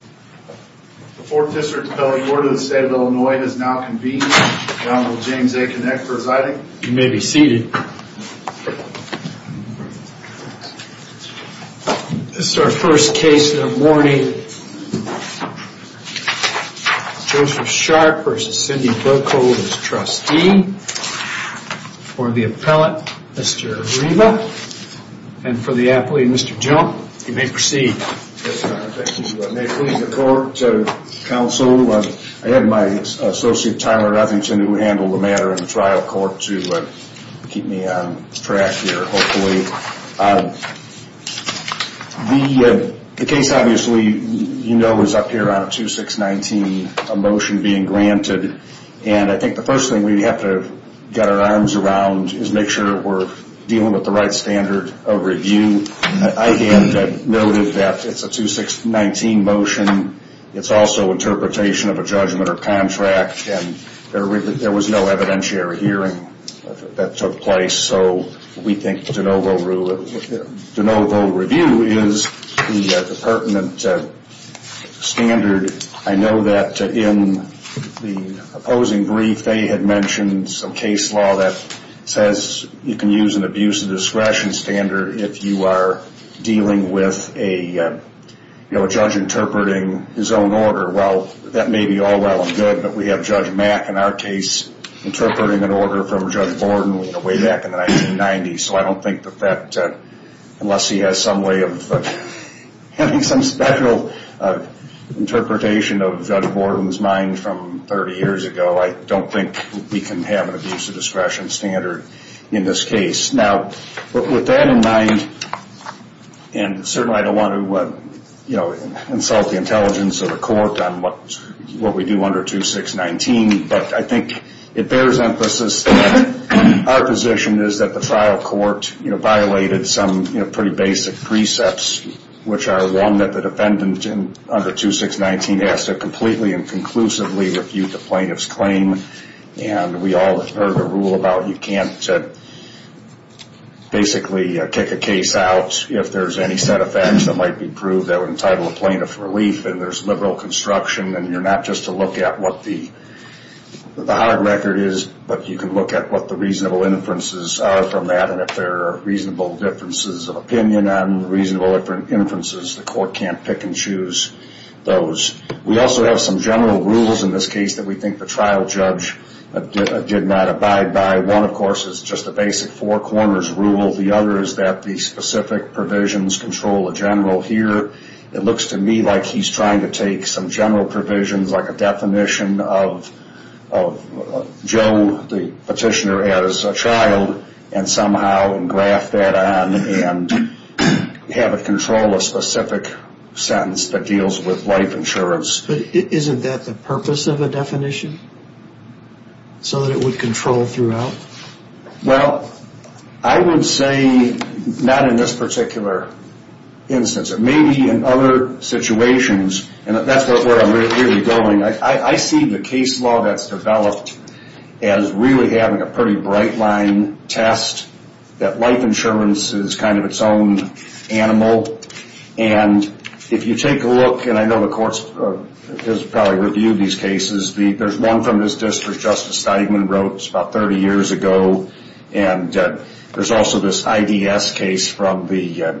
The 4th District Appellate Board of the State of Illinois has now convened. The Honorable James A. Knecht presiding. You may be seated. This is our first case this morning. Joseph Sharpe v. Cindy Birkhold as trustee. For the appellate, Mr. Arima. And for the athlete, Mr. Jump. You may proceed. Yes, Your Honor. Thank you. May it please the court, counsel, I had my associate, Tyler Rutherington, who handled the matter in the trial court, to keep me on track here, hopefully. The case, obviously, you know, is up here on 2619, a motion being granted. And I think the first thing we have to get our arms around is make sure we're dealing with the right standard of review. And I noted that it's a 2619 motion. It's also interpretation of a judgment or contract. And there was no evidentiary hearing that took place. So we think de novo review is the pertinent standard. I know that in the opposing brief, some case law that says you can use an abuse of discretion standard if you are dealing with a judge interpreting his own order. Well, that may be all well and good. But we have Judge Mack in our case interpreting an order from Judge Borden way back in the 1990s. So I don't think that that, unless he has some way of having some special interpretation of Judge Borden's mind from 30 years ago, I don't think we can have an abuse of discretion standard in this case. Now, with that in mind, and certainly I don't want to insult the intelligence of the court on what we do under 2619, but I think it bears emphasis that our position is that the trial court violated some pretty basic precepts, which are one, that the defendant under 2619 has to completely and conclusively refute the plaintiff's claim. And we all heard a rule about you can't basically kick a case out if there's any set of facts that might be proved that would entitle a plaintiff for relief. And there's liberal construction. And you're not just to look at what the hard record is, but you can look at what the reasonable inferences are from that. And if there are reasonable differences of opinion and reasonable inferences, the court can't pick and choose those. We also have some general rules in this case that we think the trial judge did not abide by. One, of course, is just the basic four corners rule. The other is that the specific provisions control the general here. It looks to me like he's trying to take some general provisions, like a definition of Joe, the petitioner, as a child, and somehow engraft that on and have it control a specific sentence that deals with life insurance. But isn't that the purpose of a definition, so that it would control throughout? Well, I would say not in this particular instance. It may be in other situations, and that's where I'm really going. I see the case law that's developed as really having a pretty bright line test that life insurance is kind of its own animal. And if you take a look, and I know the court has probably reviewed these cases, there's one from this district Justice Steigman wrote. It's about 30 years ago. And there's also this IDS case from the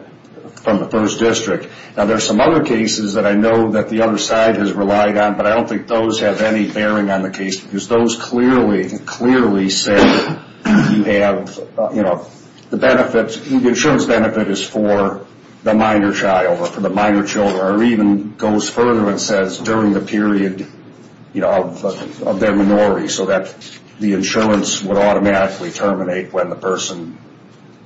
first district. Now, there's some other cases that I know that the other side has relied on, but I don't think those have any bearing on the case, because those clearly, clearly say you have, you know, the insurance benefit is for the minor child or for the minor children, or even goes further and says during the period of their minority, so that the insurance would automatically terminate when the person,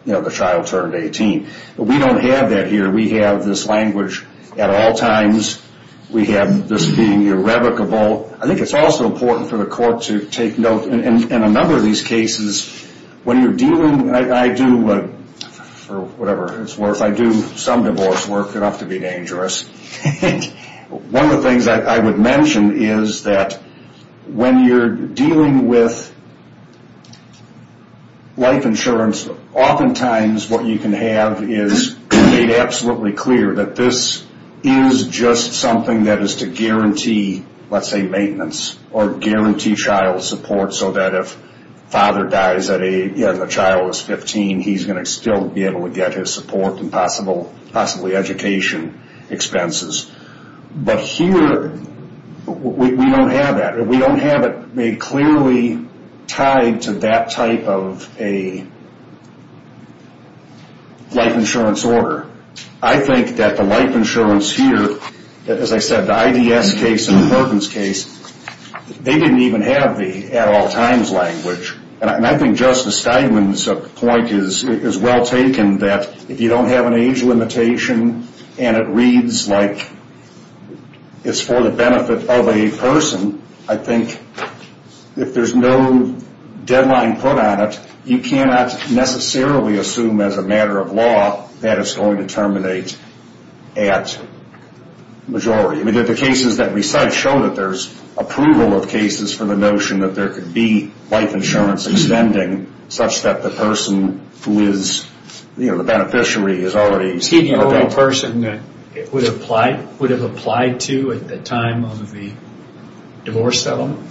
you know, the child turned 18. We don't have that here. We have this language at all times. We have this being irrevocable. I think it's also important for the court to take note. In a number of these cases, when you're dealing, I do, for whatever it's worth, I do some divorce work enough to be dangerous. One of the things I would mention is that when you're dealing with life insurance, oftentimes what you can have is made absolutely clear that this is just something that is to guarantee, let's say, maintenance or guarantee child support, so that if father dies at age, and the child is 15, he's going to still be able to get his support and possibly education expenses. But here, we don't have that. We don't have it made clearly tied to that type of a life insurance order. I think that the life insurance here, as I said, the IDS case and the Perkins case, they didn't even have the at all times language. And I think Justice Steinman's point is well taken that if you don't have an age limitation and it reads like it's for the benefit of a person, I think if there's no deadline put on it, you cannot necessarily assume as a matter of law that it's going to terminate at majority. The cases that we cite show that there's approval of cases for the notion that there could be life insurance extending such that the person who is the beneficiary is already... Is he the only person that it would have applied to at the time of the divorce settlement?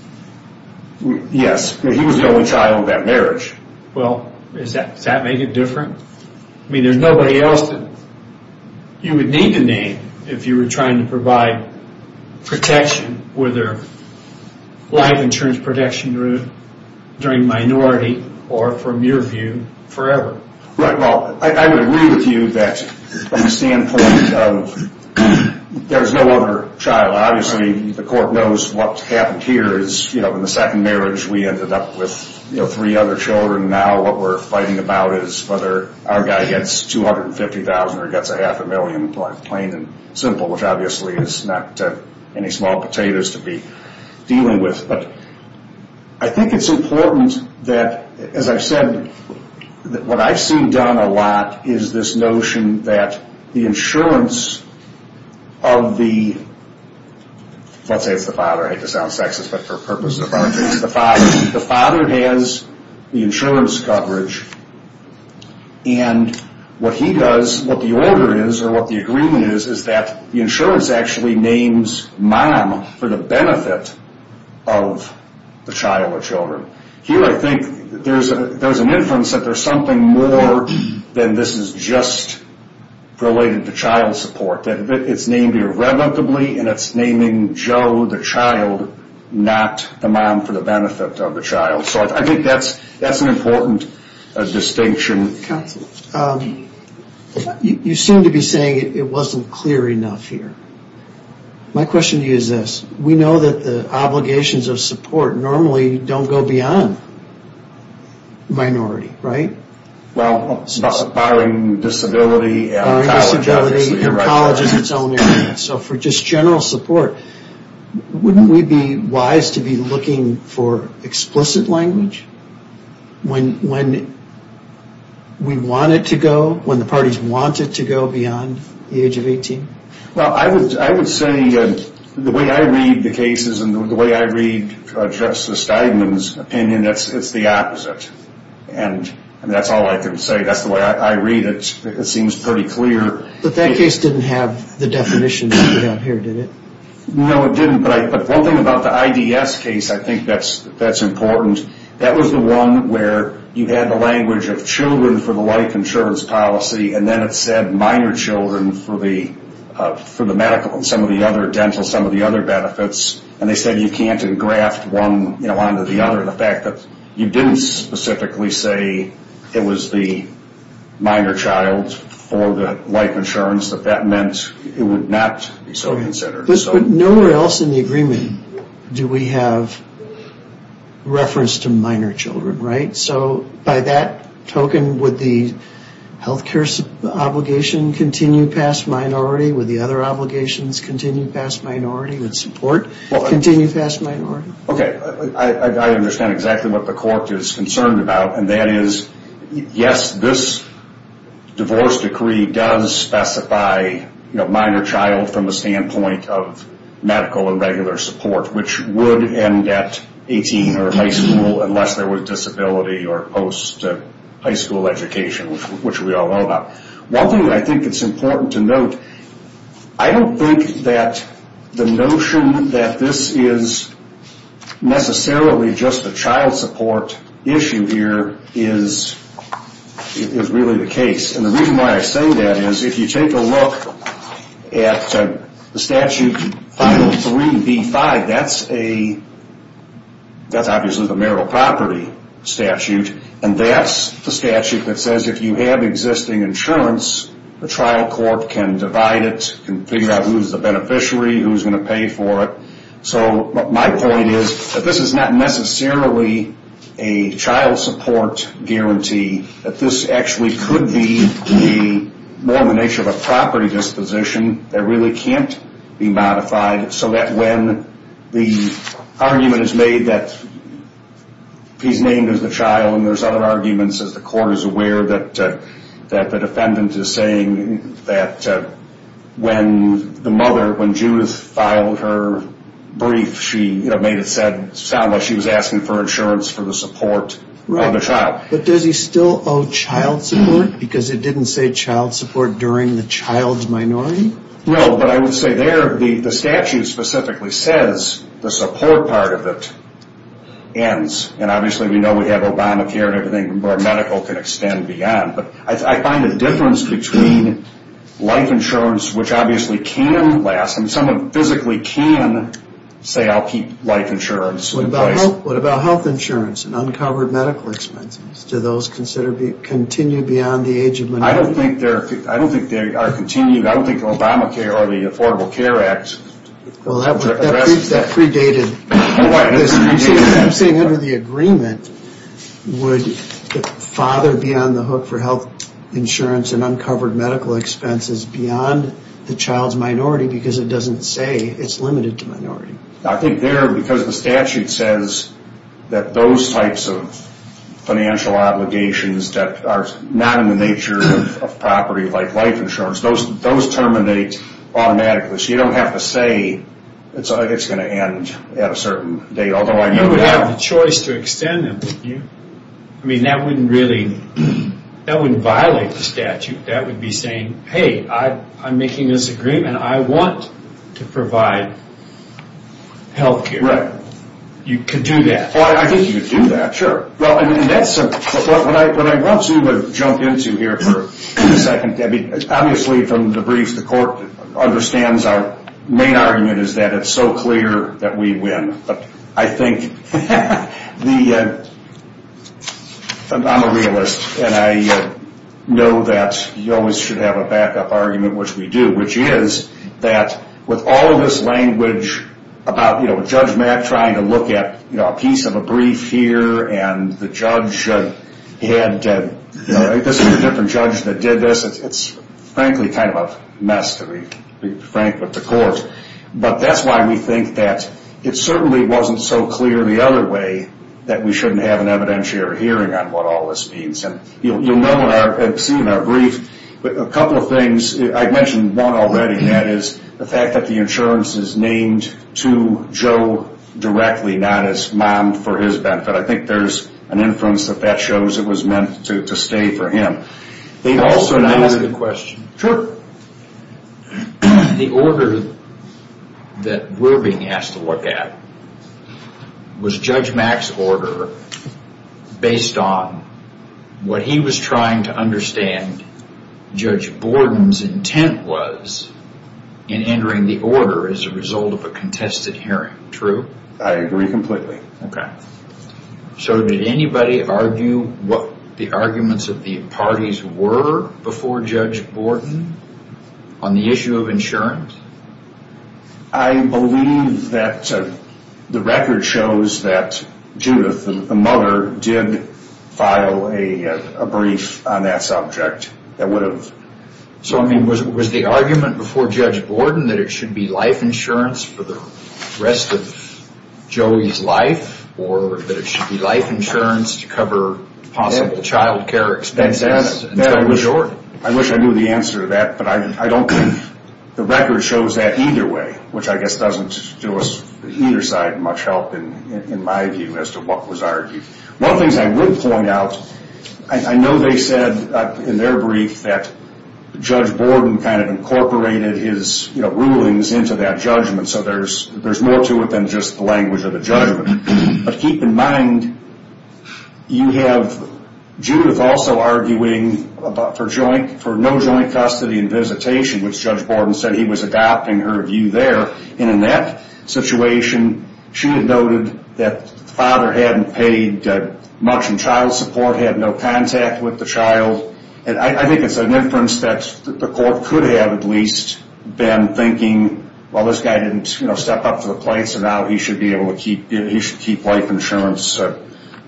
Yes. He was the only child of that marriage. Well, does that make it different? I mean, there's nobody else that you would need to name if you were trying to provide protection whether life insurance protection during minority or from your view forever. Right. Well, I would agree with you that from the standpoint of there's no other child. Obviously, the court knows what happened here is in the second marriage, we ended up with three other children. Now what we're fighting about is whether our guy gets $250,000 or gets a half a million, plain and simple, which obviously is not any small potatoes to be dealing with. But I think it's important that, as I've said, what I've seen done a lot is this notion that the insurance of the... Let's say it's the father. I hate to sound sexist, but for purposes of our case, the father. The father has the insurance coverage. And what he does, what the order is, or what the agreement is, is that the insurance actually names mom for the benefit of the child or children. Here I think there's an inference that there's something more than this is just related to child support. It's named irrevocably and it's naming Joe, the child, not the mom for the benefit of the child. So I think that's an important distinction. You seem to be saying it wasn't clear enough here. My question to you is this. We know that the obligations of support normally don't go beyond minority, right? Well, barring disability and college. College is its own area. So for just general support, wouldn't we be wise to be looking for explicit language when we want it to go, when the parties want it to go beyond the age of 18? Well, I would say the way I read the cases and the way I read Justice Steinman's opinion, it's the opposite. And that's all I can say. That's the way I read it. It seems pretty clear. But that case didn't have the definition down here, did it? No, it didn't. But one thing about the IDS case I think that's important. That was the one where you had the language of children for the life insurance policy and then it said minor children for the medical and some of the other dental, some of the other benefits, and they said you can't engraft one onto the other. The fact that you didn't specifically say it was the minor child for the life insurance, that that meant it would not be so considered. But nowhere else in the agreement do we have reference to minor children, right? So by that token, would the health care obligation continue past minority? Would the other obligations continue past minority? Would support continue past minority? Okay. I understand exactly what the court is concerned about, and that is, yes, this divorce decree does specify minor child from the standpoint of medical and regular support, which would end at 18 or high school unless there was disability or post-high school education, which we all know about. One thing I think it's important to note, I don't think that the notion that this is necessarily just a child support issue here is really the case. And the reason why I say that is if you take a look at the statute 503B5, that's obviously the marital property statute, and that's the statute that says if you have existing insurance, the trial court can divide it, can figure out who's the beneficiary, who's going to pay for it. So my point is that this is not necessarily a child support guarantee, that this actually could be more the nature of a property disposition that really can't be modified so that when the argument is made that he's named as the child, and there's other arguments as the court is aware that the defendant is saying that when the mother, when Judith filed her brief, she made it sound like she was asking for insurance for the support of the child. But does he still owe child support because it didn't say child support during the child's minority? No, but I would say there the statute specifically says the support part of it ends. And obviously we know we have Obamacare and everything where medical can extend beyond. But I find a difference between life insurance, which obviously can last, and someone physically can say I'll keep life insurance in place. What about health insurance and uncovered medical expenses? Do those continue beyond the age of minority? I don't think they are continued. I don't think Obamacare or the Affordable Care Act addresses that. Well, that predated this. I'm saying under the agreement would the father be on the hook for health insurance and uncovered medical expenses beyond the child's minority because it doesn't say it's limited to minority. I think there, because the statute says that those types of financial obligations that are not in the nature of property like life insurance, those terminate automatically. So you don't have to say it's going to end at a certain date. You would have the choice to extend them. That wouldn't violate the statute. That would be saying, hey, I'm making this agreement. I want to provide health care. You could do that. I think you could do that, sure. Well, that's what I want to jump into here for a second. Obviously, from the briefs, the court understands our main argument is that it's so clear that we win. But I think I'm a realist, and I know that you always should have a backup argument, which we do, which is that with all of this language about Judge Mack trying to look at a piece of a brief here and the judge had, this is a different judge that did this. It's frankly kind of a mess, to be frank, with the court. But that's why we think that it certainly wasn't so clear the other way that we shouldn't have an evidentiary hearing on what all this means. You'll know and see in our brief a couple of things. I mentioned one already, and that is the fact that the insurance is named to Joe directly, not as mom for his benefit. I think there's an influence that that shows it was meant to stay for him. Can I ask a question? Sure. The order that we're being asked to look at was Judge Mack's order based on what he was trying to understand Judge Borden's intent was in entering the order as a result of a contested hearing, true? I agree completely. Okay. So did anybody argue what the arguments of the parties were before Judge Borden on the issue of insurance? I believe that the record shows that Judith, the mother, did file a brief on that subject. So was the argument before Judge Borden that it should be life insurance for the rest of Joey's life or that it should be life insurance to cover possible child care expenses? I wish I knew the answer to that, but the record shows that either way, which I guess doesn't do us on either side much help in my view as to what was argued. One of the things I would point out, I know they said in their brief that Judge Borden kind of incorporated his rulings into that judgment. So there's more to it than just the language of the judgment. But keep in mind, you have Judith also arguing for no joint custody and visitation, which Judge Borden said he was adopting her view there. And in that situation, she had noted that the father hadn't paid much in child support, had no contact with the child. And I think it's an inference that the court could have at least been thinking, well, this guy didn't step up to the plate, so now he should keep life insurance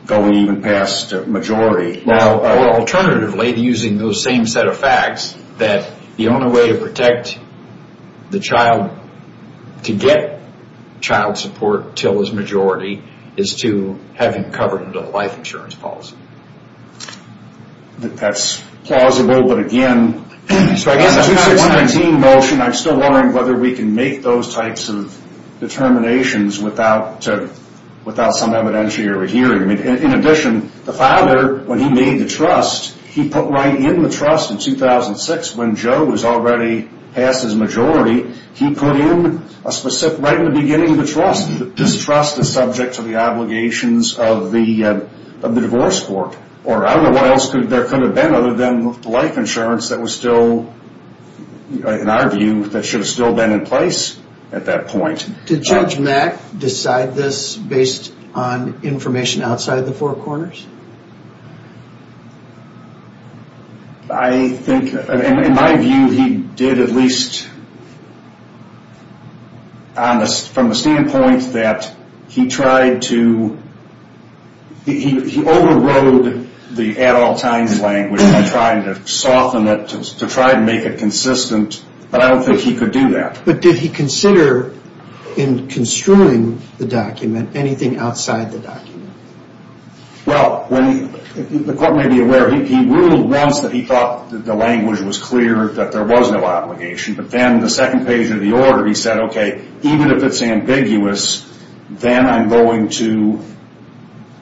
going even past majority. Or alternatively, using those same set of facts, that the only way to protect the child to get child support until his majority is to have him covered under the life insurance policy. That's plausible, but again, I'm still wondering whether we can make those types of determinations without some evidentiary hearing. In addition, the father, when he made the trust, he put right in the trust in 2006 when Joe was already past his majority. He put in a specific right in the beginning of the trust. This trust is subject to the obligations of the divorce court. Or I don't know what else there could have been other than life insurance that was still, in our view, that should have still been in place at that point. Did Judge Mack decide this based on information outside the four corners? I think, in my view, he did at least from the standpoint that he tried to, he overrode the at-all-times language by trying to soften it, to try to make it consistent, but I don't think he could do that. But did he consider, in construing the document, anything outside the document? Well, the court may be aware, he ruled once that he thought the language was clear, that there was no obligation. But then the second page of the order, he said, okay, even if it's ambiguous, then I'm going to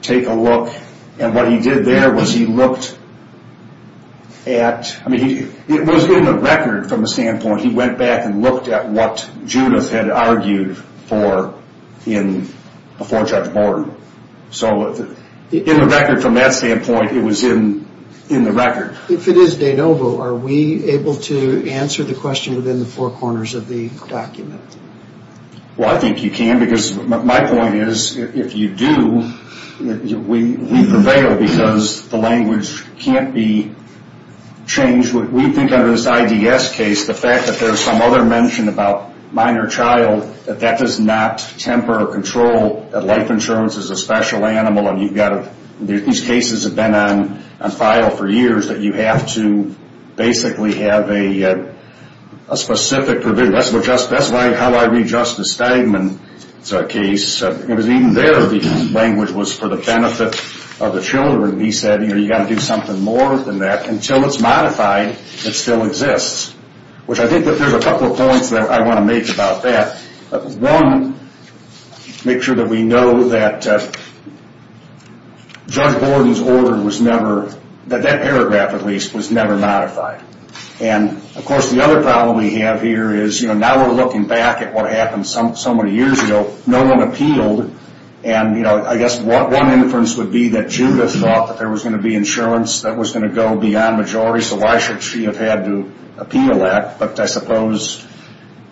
take a look. And what he did there was he looked at, I mean, it was in the record from the standpoint, he went back and looked at what Judith had argued for before Judge Borden. So in the record, from that standpoint, it was in the record. If it is de novo, are we able to answer the question within the four corners of the document? Well, I think you can, because my point is, if you do, we prevail, because the language can't be changed. We think under this IDS case, the fact that there's some other mention about minor child, that that does not temper or control that life insurance is a special animal. These cases have been on file for years that you have to basically have a specific provision. That's how I read Justice Stegman's case. It was even there the language was for the benefit of the children. He said, you've got to do something more than that. Until it's modified, it still exists. Which I think there's a couple of points that I want to make about that. One, make sure that we know that Judge Borden's order was never, that that paragraph at least, was never modified. And, of course, the other problem we have here is, now we're looking back at what happened so many years ago, no one appealed. I guess one inference would be that Judith thought that there was going to be insurance that was going to go beyond majority, so why should she have had to appeal that? But I suppose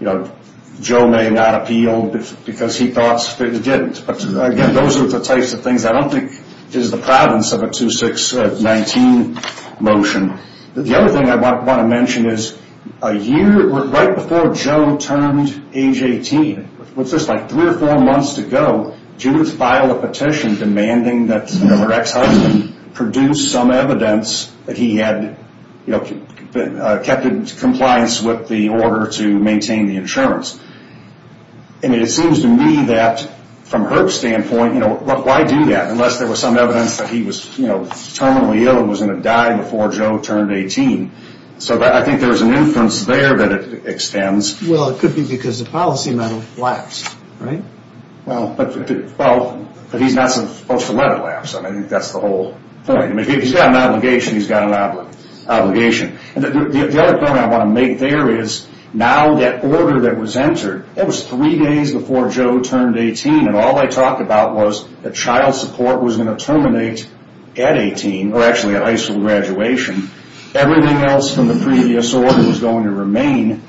Joe may not have appealed because he thought it didn't. Again, those are the types of things I don't think is the province of a 2-6-19 motion. The other thing I want to mention is, right before Joe turned age 18, what's this, like three or four months to go, Judith filed a petition demanding that her ex-husband produce some evidence that he had kept in compliance with the order to maintain the insurance. It seems to me that, from her standpoint, why do that? Unless there was some evidence that he was terminally ill and was going to die before Joe turned 18. So I think there's an inference there that it extends. Well, it could be because the policy metal lapsed, right? Well, but he's not supposed to let it lapse. I think that's the whole point. If he's got an obligation, he's got an obligation. The other point I want to make there is, now that order that was entered, that was three days before Joe turned 18, and all they talked about was that child support was going to terminate at 18, or actually at high school graduation. Everything else from the previous order was going to remain.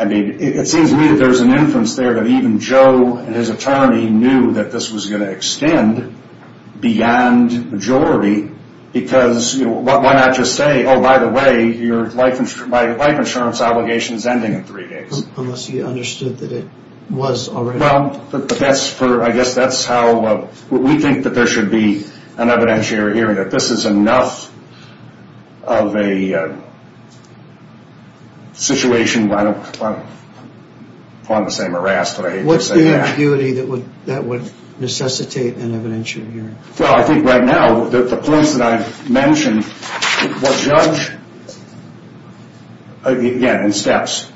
It seems to me that there's an inference there that even Joe and his attorney knew that this was going to extend beyond majority, because why not just say, oh, by the way, your life insurance obligation is ending in three days. Unless he understood that it was already. I guess that's how we think that there should be an evidentiary hearing, that this is enough of a situation where I don't want to say I'm harassed, but I hate to say that. What's the ambiguity that would necessitate an evidentiary hearing? Well, I think right now the points that I've mentioned will judge, again, in steps.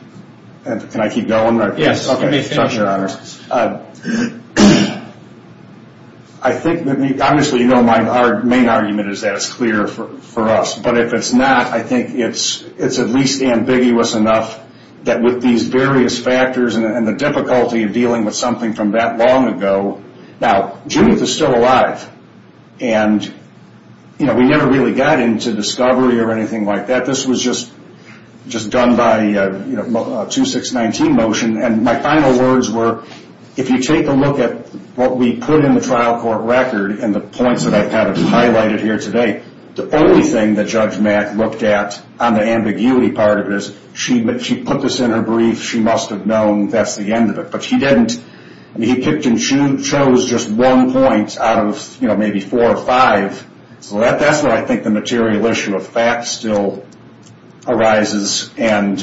Can I keep going? Yes. Okay. Thank you, Your Honors. I think, obviously, you know my main argument is that it's clear for us, but if it's not, I think it's at least ambiguous enough that with these various factors and the difficulty of dealing with something from that long ago. Now, Judith is still alive, and we never really got into discovery or anything like that. This was just done by a 2619 motion, and my final words were if you take a look at what we put in the trial court record and the points that I've kind of highlighted here today, the only thing that Judge Mack looked at on the ambiguity part of it is she put this in her brief. She must have known that's the end of it. But she didn't. I mean, he picked and chose just one point out of, you know, maybe four or five. So that's where I think the material issue of facts still arises, and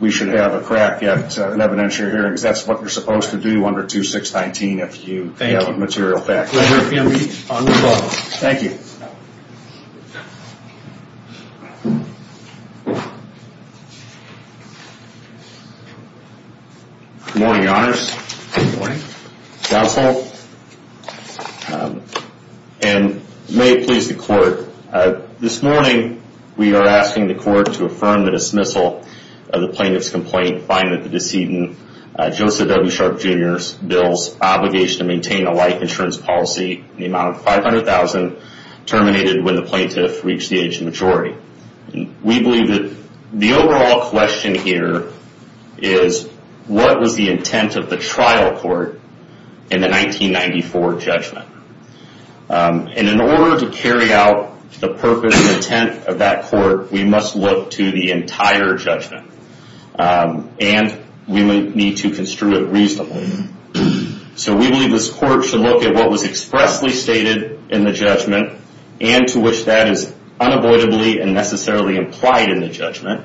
we should have a crack at an evidentiary hearing, because that's what you're supposed to do under 2619 if you have a material fact. Thank you. Pleasure to be on the call. Thank you. Good morning, Your Honors. Good morning. Counsel, and may it please the Court, this morning we are asking the Court to affirm the dismissal of the plaintiff's complaint, find that the decedent, Joseph W. Sharp, Jr.'s, bills obligation to maintain a life insurance policy in the amount of $500,000 terminated when the plaintiff reached the age of maturity. We believe that the overall question here is what was the intent of the trial court in the 1994 judgment? And in order to carry out the purpose and intent of that court, we must look to the entire judgment, and we need to construe it reasonably. So we believe this court should look at what was expressly stated in the judgment and to which that is unavoidably and necessarily implied in the judgment.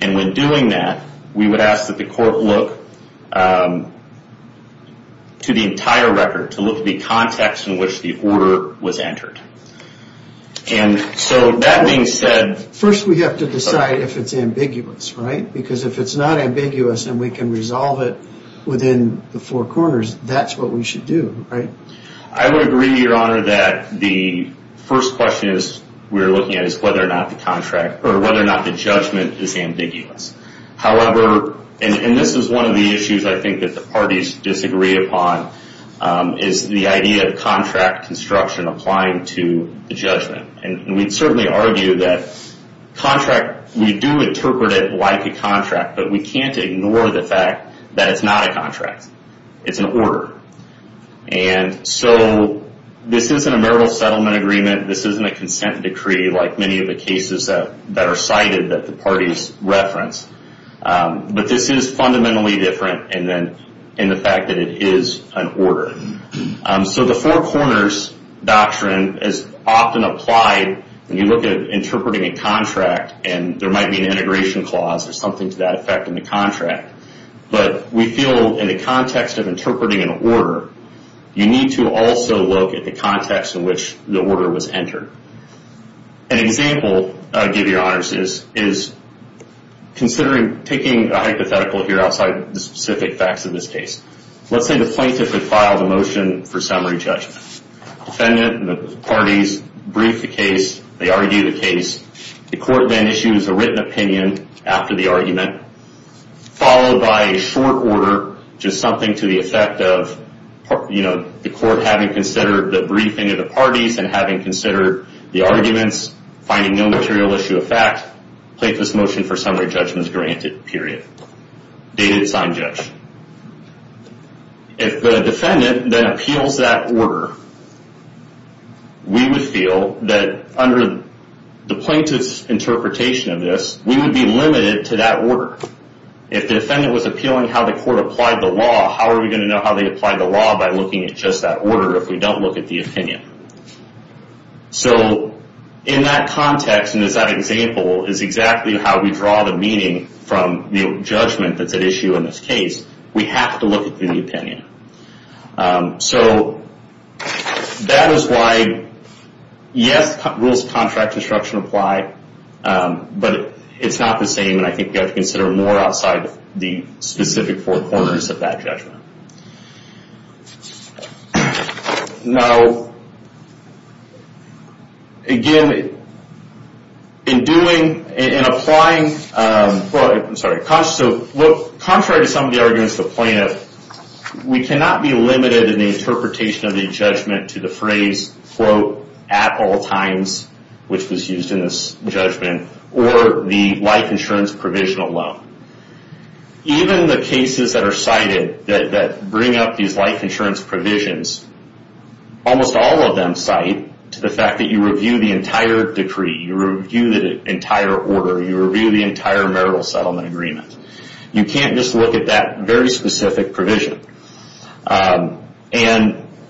And when doing that, we would ask that the court look to the entire record, to look at the context in which the order was entered. And so that being said... First we have to decide if it's ambiguous, right? Because if it's not ambiguous and we can resolve it within the four corners, that's what we should do, right? I would agree, Your Honor, that the first question we're looking at is whether or not the judgment is ambiguous. However, and this is one of the issues I think that the parties disagree upon, is the idea of contract construction applying to the judgment. And we'd certainly argue that we do interpret it like a contract, but we can't ignore the fact that it's not a contract. It's an order. And so this isn't a marital settlement agreement. This isn't a consent decree like many of the cases that are cited that the parties reference. But this is fundamentally different in the fact that it is an order. So the four corners doctrine is often applied when you look at interpreting a contract and there might be an integration clause or something to that effect in the contract. But we feel in the context of interpreting an order, you need to also look at the context in which the order was entered. An example, I give you, Your Honors, is considering taking a hypothetical here outside the specific facts of this case. Let's say the plaintiff had filed a motion for summary judgment. Defendant and the parties brief the case. They argue the case. The court then issues a written opinion after the argument, followed by a short order, and having considered the arguments, finding no material issue of fact, place this motion for summary judgment granted, period. Dated sign judge. If the defendant then appeals that order, we would feel that under the plaintiff's interpretation of this, we would be limited to that order. If the defendant was appealing how the court applied the law, how are we going to know how they applied the law by looking at just that order if we don't look at the opinion? In that context, and as that example, is exactly how we draw the meaning from the judgment that's at issue in this case. We have to look at the opinion. That is why, yes, rules of contract construction apply, but it's not the same, and I think you have to consider more outside the specific four corners of that judgment. Now, again, in doing, in applying, well, I'm sorry, contrary to some of the arguments of the plaintiff, we cannot be limited in the interpretation of the judgment to the phrase, quote, at all times, which was used in this judgment, or the life insurance provisional loan. Even the cases that are cited that bring up these life insurance provisions, almost all of them cite to the fact that you review the entire decree, you review the entire order, you review the entire marital settlement agreement. You can't just look at that very specific provision.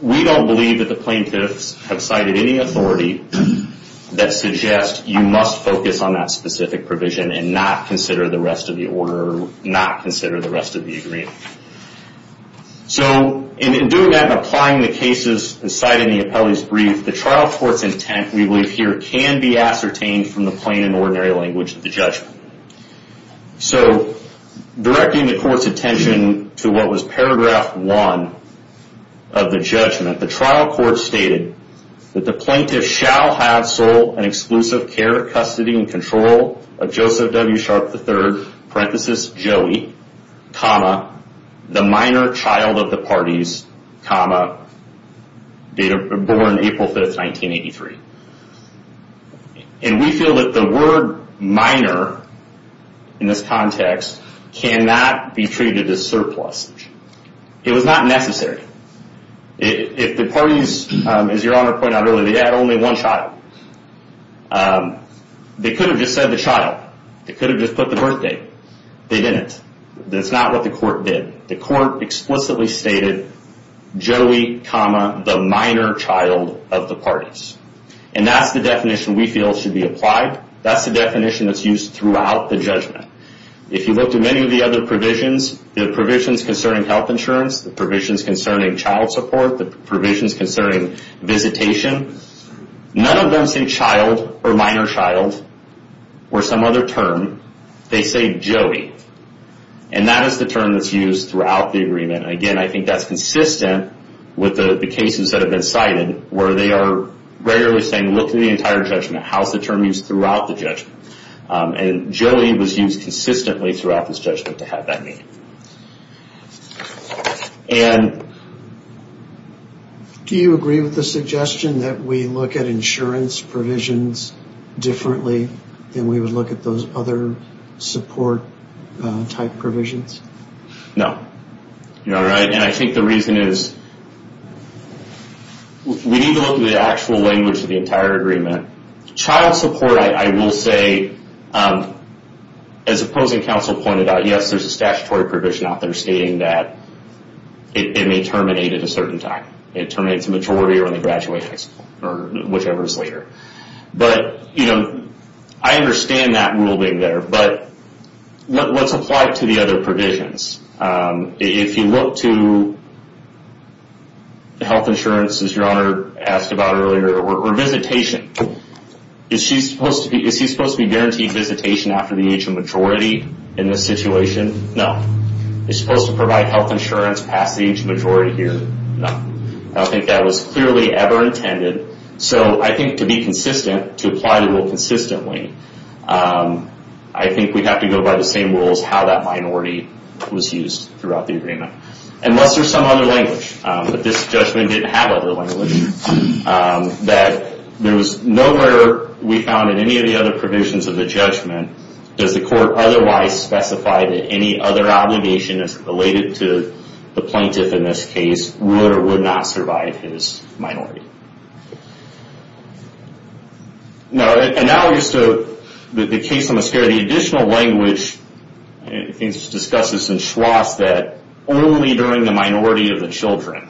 We don't believe that the plaintiffs have cited any authority that suggests you must focus on that specific provision and not consider the rest of the order, or not consider the rest of the agreement. In doing that and applying the cases cited in the appellee's brief, the trial court's intent, we believe here, can be ascertained from the plain and ordinary language of the judgment. Directing the court's attention to what was paragraph one of the judgment, the trial court stated that the plaintiff shall have sole and exclusive care, custody, and control of Joseph W. Sharp III, parenthesis, Joey, comma, the minor child of the parties, comma, born April 5th, 1983. And we feel that the word minor in this context cannot be treated as surplus. It was not necessary. If the parties, as Your Honor pointed out earlier, they had only one child, they could have just said the child. They could have just put the birth date. They didn't. That's not what the court did. The court explicitly stated Joey, comma, the minor child of the parties. And that's the definition we feel should be applied. That's the definition that's used throughout the judgment. If you looked at many of the other provisions, the provisions concerning health insurance, the provisions concerning child support, the provisions concerning visitation, none of them say child or minor child or some other term. They say Joey. And that is the term that's used throughout the agreement. And, again, I think that's consistent with the cases that have been cited where they are regularly saying look through the entire judgment. How is the term used throughout the judgment? And Joey was used consistently throughout this judgment to have that name. Do you agree with the suggestion that we look at insurance provisions differently than we would look at those other support-type provisions? No. Your Honor, I think the reason is we need to look at the actual language of the entire agreement. Child support, I will say, as opposing counsel pointed out, yes, there's a statutory provision out there stating that it may terminate at a certain time. It terminates in the majority or in the graduations or whichever is later. But, you know, I understand that ruling there. But what's applied to the other provisions? If you look to health insurance, as Your Honor asked about earlier, or visitation, is he supposed to be guaranteed visitation after the age of majority in this situation? No. Is he supposed to provide health insurance past the age of majority here? No. I don't think that was clearly ever intended. So I think to be consistent, to apply the rule consistently, I think we have to go by the same rules how that minority was used throughout the agreement. Unless there's some other language. If this judgment didn't have other language, that there was nowhere we found in any of the other provisions of the judgment does the court otherwise specify that any other obligation that's related to the plaintiff in this case would or would not survive his minority. No, analogous to the case on the mascara, the additional language discusses and schwas that only during the minority of the children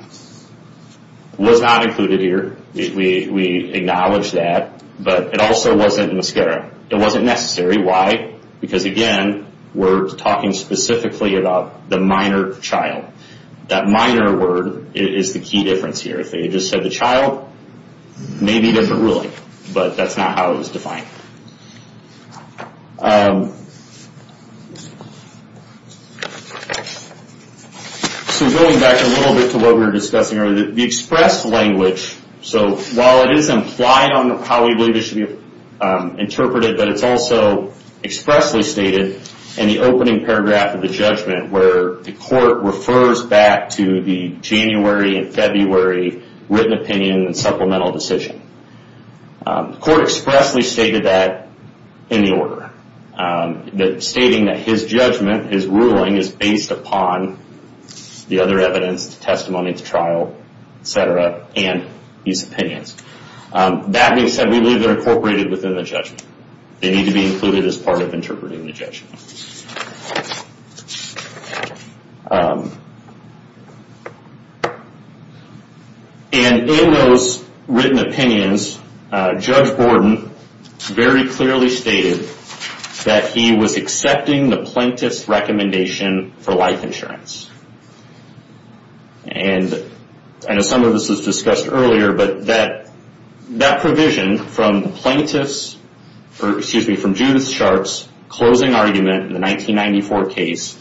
was not included here. We acknowledge that. But it also wasn't in the mascara. It wasn't necessary. Why? Because, again, we're talking specifically about the minor child. That minor word is the key difference here. If they just said the child, maybe there's a ruling. But that's not how it was defined. So going back a little bit to what we were discussing earlier, the express language. So while it is implied on how we believe it should be interpreted, but it's also expressly stated in the opening paragraph of the judgment where the court refers back to the January and February written opinion and supplemental decision. The court expressly stated that in the order, stating that his judgment, his ruling is based upon the other evidence, the testimony, the trial, et cetera, and his opinions. That being said, we believe they're incorporated within the judgment. They need to be included as part of interpreting the judgment. And in those written opinions, Judge Borden very clearly stated that he was accepting the plaintiff's recommendation for life insurance. And I know some of this was discussed earlier, but that provision from the plaintiff's, or excuse me, from Judith Sharpe's closing argument in the 1994 case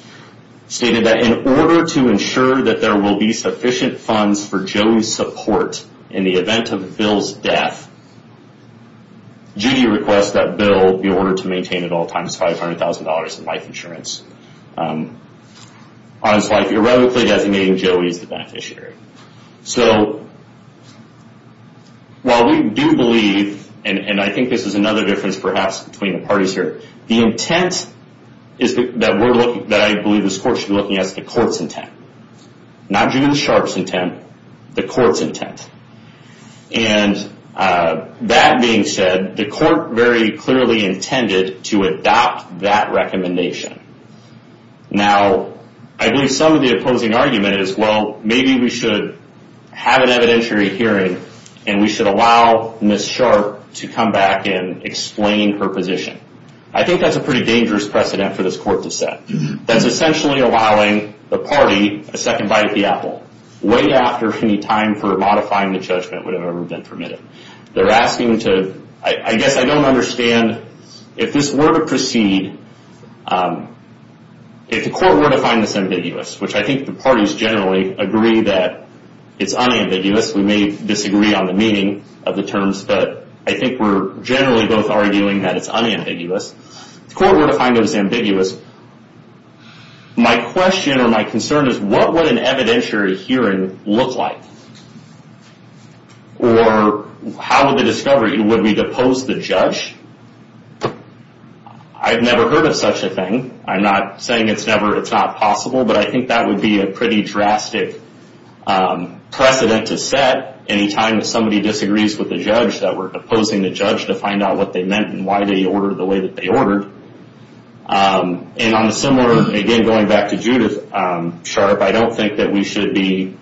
stated that in order to ensure that there will be sufficient funds for Joey's support in the event of Bill's death, Judy requests that Bill be ordered to maintain at all times $500,000 in life insurance. On his life, irrevocably designating Joey as the beneficiary. So while we do believe, and I think this is another difference perhaps between the parties here, the intent that I believe this court should be looking at is the court's intent. Not Judy Sharpe's intent, the court's intent. And that being said, the court very clearly intended to adopt that recommendation. Now, I believe some of the opposing argument is, well, maybe we should have an evidentiary hearing and we should allow Ms. Sharpe to come back and explain her position. I think that's a pretty dangerous precedent for this court to set. That's essentially allowing the party a second bite at the apple, way after any time for modifying the judgment would have ever been permitted. They're asking to, I guess I don't understand if this were to proceed, if the court were to find this ambiguous, which I think the parties generally agree that it's unambiguous. We may disagree on the meaning of the terms, but I think we're generally both arguing that it's unambiguous. If the court were to find it as ambiguous, my question or my concern is, what would an evidentiary hearing look like? Or how would the discovery, would we depose the judge? I've never heard of such a thing. I'm not saying it's not possible, but I think that would be a pretty drastic precedent to set any time that somebody disagrees with the judge, that we're deposing the judge to find out what they meant and why they ordered the way that they ordered. On a similar, again, going back to Judith Sharpe, I don't think that we should be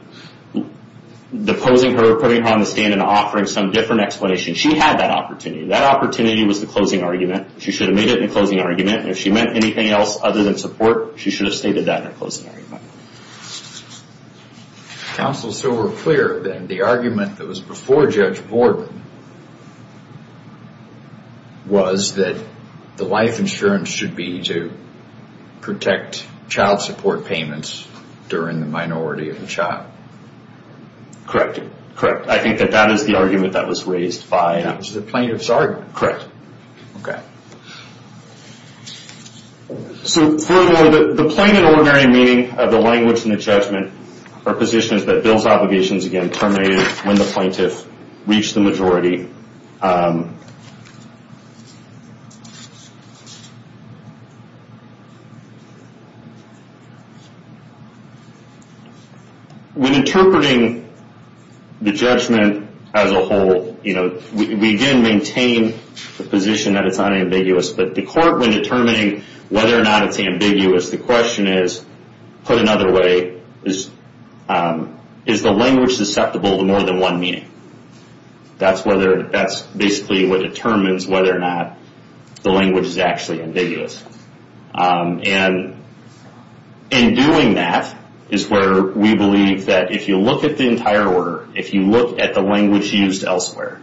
deposing her, putting her on the stand, and offering some different explanation. She had that opportunity. That opportunity was the closing argument. She should have made it in the closing argument. If she meant anything else other than support, she should have stated that in the closing argument. Counsel, so we're clear that the argument that was before Judge Borden was that the life insurance should be to protect child support payments during the minority of the child. Correct. I think that that is the argument that was raised by the plaintiff's argument. Correct. Okay. So furthermore, the plain and ordinary meaning of the language in the judgment are positions that Bill's obligations, again, terminated when the plaintiff reached the majority. When interpreting the judgment as a whole, we, again, maintain the position that it's unambiguous. But the court, when determining whether or not it's ambiguous, the question is, put another way, is the language susceptible to more than one meaning? That's basically what determines whether or not the language is actually ambiguous. And in doing that is where we believe that if you look at the entire order, if you look at the language used elsewhere,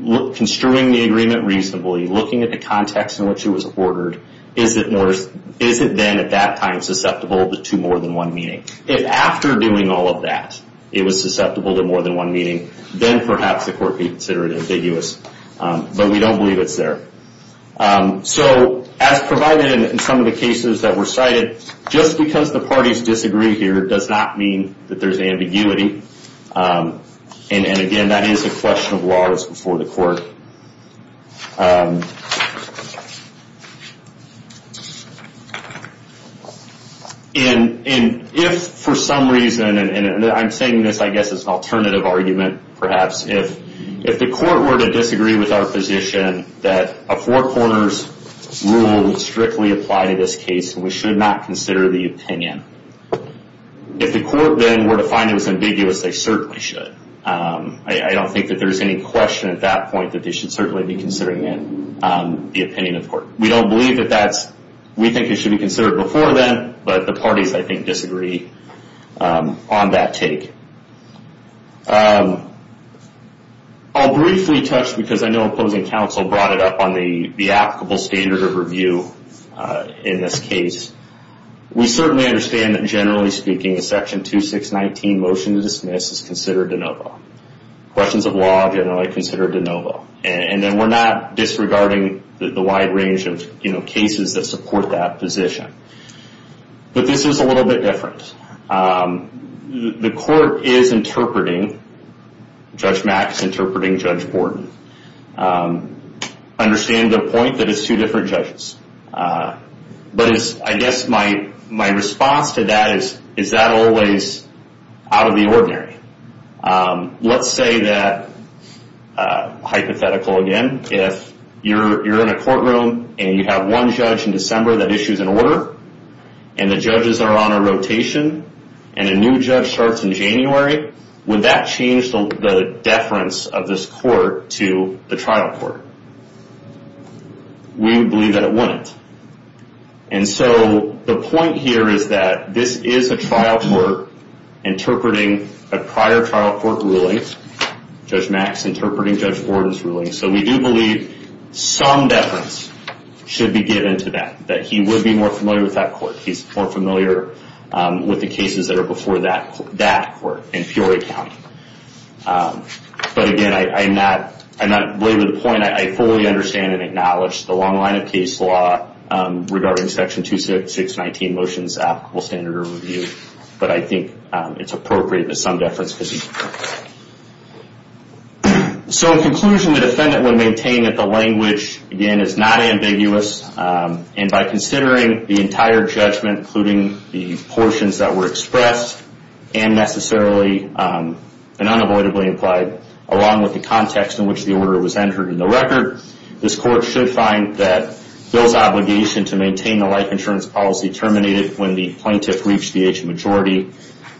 construing the agreement reasonably, looking at the context in which it was ordered, is it then at that time susceptible to more than one meaning? If after doing all of that it was susceptible to more than one meaning, then perhaps the court would consider it ambiguous. But we don't believe it's there. So as provided in some of the cases that were cited, just because the parties disagree here does not mean that there's ambiguity. And, again, that is a question of laws before the court. And if for some reason, and I'm saying this, I guess, as an alternative argument, perhaps, if the court were to disagree with our position that a four corners rule would strictly apply to this case, we should not consider the opinion. If the court then were to find it was ambiguous, they certainly should. I don't think that there's any question at that point that they should certainly be considering it, the opinion of court. We don't believe that that's, we think it should be considered before then, but the parties, I think, disagree on that take. I'll briefly touch, because I know opposing counsel brought it up, on the applicable standard of review in this case. We certainly understand that, generally speaking, a Section 2619 motion to dismiss is considered de novo. Questions of law are generally considered de novo. And then we're not disregarding the wide range of cases that support that position. But this is a little bit different. The court is interpreting, Judge Mack is interpreting Judge Borden. I understand the point that it's two different judges. But I guess my response to that is, is that always out of the ordinary? Let's say that, hypothetical again, if you're in a courtroom and you have one judge in December that issues an order, and the judges are on a rotation, and a new judge starts in January, would that change the deference of this court to the trial court? We believe that it wouldn't. And so the point here is that this is a trial court interpreting a prior trial court ruling. Judge Mack's interpreting Judge Borden's ruling. So we do believe some deference should be given to that, that he would be more familiar with that court. He's more familiar with the cases that are before that court in Peoria County. But again, I'm not wavering the point. I fully understand and acknowledge the long line of case law regarding Section 2619 motions applicable standard of review. But I think it's appropriate to some deference. So in conclusion, the defendant would maintain that the language, again, is not ambiguous. And by considering the entire judgment, including the portions that were expressed and necessarily and unavoidably implied, along with the context in which the order was entered in the record, this court should find that Bill's obligation to maintain the life insurance policy terminated when the plaintiff reached the age of majority,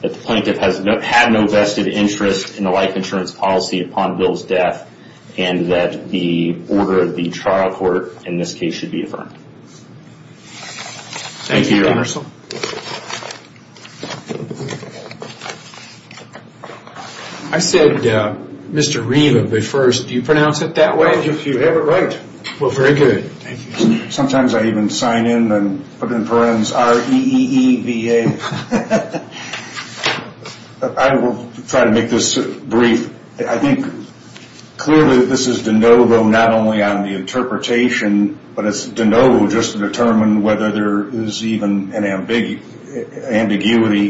that the plaintiff had no vested interest in the life insurance policy upon Bill's death, and that the order of the trial court in this case should be affirmed. Thank you, Your Honor. Thank you, Your Honor. I said Mr. Reeve of the first. Do you pronounce it that way? If you have it right. Well, very good. Thank you. Sometimes I even sign in and put in parens, R-E-E-E-V-A. I will try to make this brief. I think clearly this is de novo not only on the interpretation, but it's de novo just to determine whether there is even an ambiguity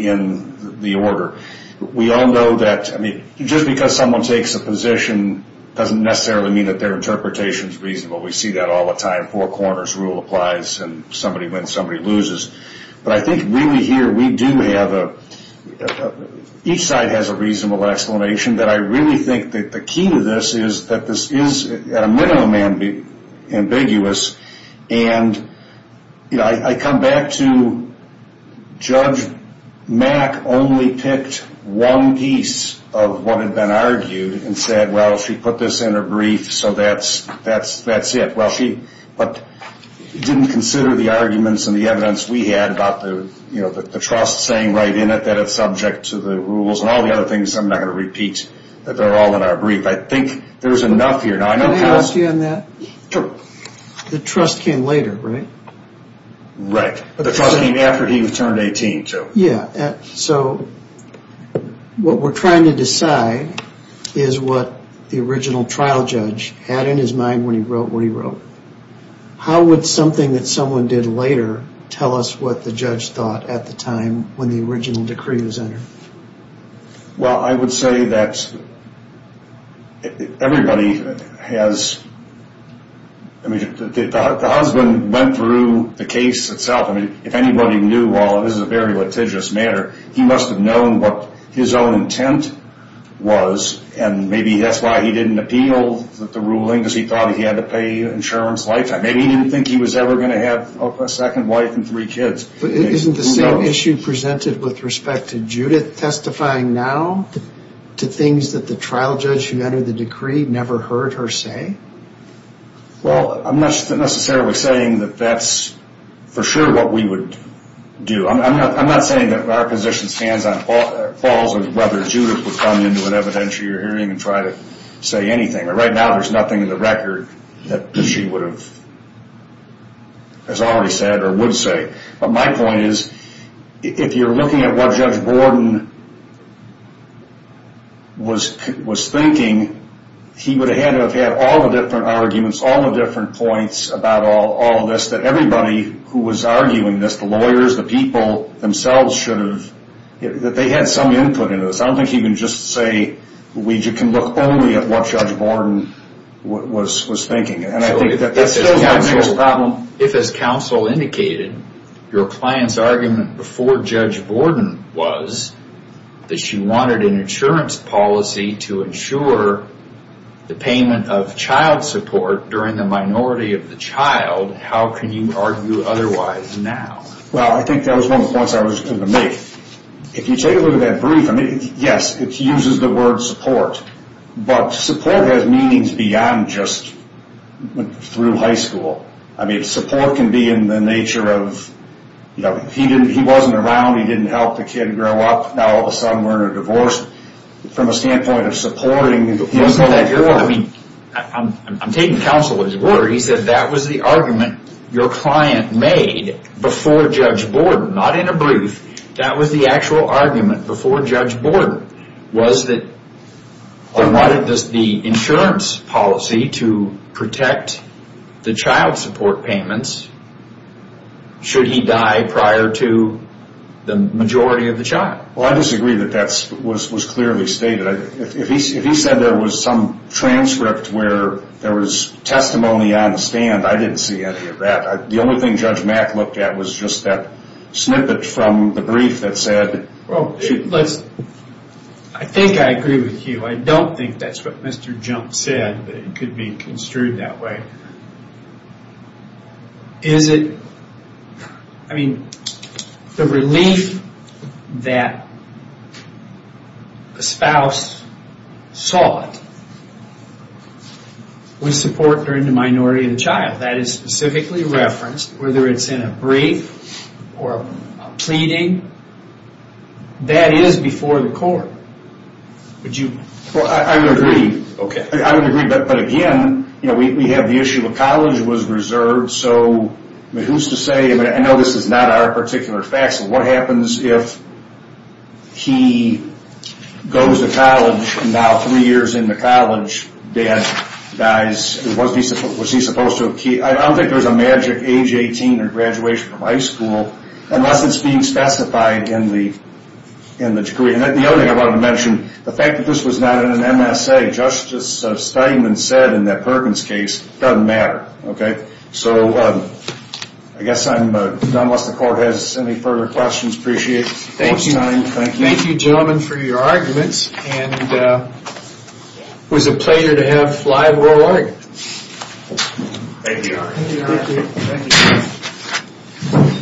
in the order. We all know that, I mean, just because someone takes a position doesn't necessarily mean that their interpretation is reasonable. We see that all the time. Four corners rule applies and somebody wins, somebody loses. But I think really here we do have a – each side has a reasonable explanation that I really think that the key to this is that this is at a minimum ambiguous. And I come back to Judge Mack only picked one piece of what had been argued and said, well, she put this in her brief, so that's it. Well, she didn't consider the arguments and the evidence we had about the trust saying right in it that it's subject to the rules and all the other things. I'm not going to repeat that they're all in our brief. I think there's enough here. Can I ask you on that? Sure. The trust came later, right? Right. But the trust came after he turned 18, too. Yeah. So what we're trying to decide is what the original trial judge had in his mind when he wrote what he wrote. How would something that someone did later tell us what the judge thought at the time when the original decree was entered? Well, I would say that everybody has – the husband went through the case itself. I mean, if anybody knew, while this is a very litigious matter, he must have known what his own intent was and maybe that's why he didn't appeal the ruling because he thought he had to pay insurance lifetime. Maybe he didn't think he was ever going to have a second wife and three kids. Isn't the same issue presented with respect to Judith testifying now to things that the trial judge who entered the decree never heard her say? Well, I'm not necessarily saying that that's for sure what we would do. I'm not saying that our position stands on – falls on whether Judith would come into an evidentiary hearing and try to say anything. Right now there's nothing in the record that she would have, as I already said, or would say. But my point is if you're looking at what Judge Borden was thinking, he would have had to have had all the different arguments, all the different points about all of this, that everybody who was arguing this, the lawyers, the people themselves, should have – that they had some input into this. I don't think you can just say we can look only at what Judge Borden was thinking. And I think that's still the biggest problem. So if, as counsel indicated, your client's argument before Judge Borden was that she wanted an insurance policy to ensure the payment of child support during the minority of the child, how can you argue otherwise now? Well, I think that was one of the points I was going to make. If you take a look at that brief, I mean, yes, it uses the word support. But support has meanings beyond just through high school. I mean, support can be in the nature of, you know, he wasn't around, he didn't help the kid grow up, now all of a sudden we're in a divorce. From a standpoint of supporting – I mean, I'm taking counsel as a lawyer. He said that was the argument your client made before Judge Borden, not in a brief. That was the actual argument before Judge Borden, was that they wanted the insurance policy to protect the child support payments should he die prior to the majority of the child. Well, I disagree that that was clearly stated. If he said there was some transcript where there was testimony on the stand, I didn't see any of that. The only thing Judge Mack looked at was just that snippet from the brief that said – Well, I think I agree with you. I don't think that's what Mr. Jump said, but it could be construed that way. Is it – I mean, the relief that the spouse sought was support during the minority of the child. That is specifically referenced, whether it's in a brief or a pleading. That is before the court. Would you – I would agree, but again, we have the issue of college was reserved, so who's to say – I know this is not our particular facts, but what happens if he goes to college, and now three years into college, dad dies? Was he supposed to have – I don't think there's a magic age 18 or graduation from high school, unless it's being specified in the decree. The other thing I wanted to mention, the fact that this was not in an MSA. Justice Steinman said in that Perkins case, it doesn't matter. Okay? So I guess I'm done unless the court has any further questions. Appreciate your time. Thank you. Thank you, gentlemen, for your arguments, and it was a pleasure to have live oral arguments. Thank you. Thank you. Thank you.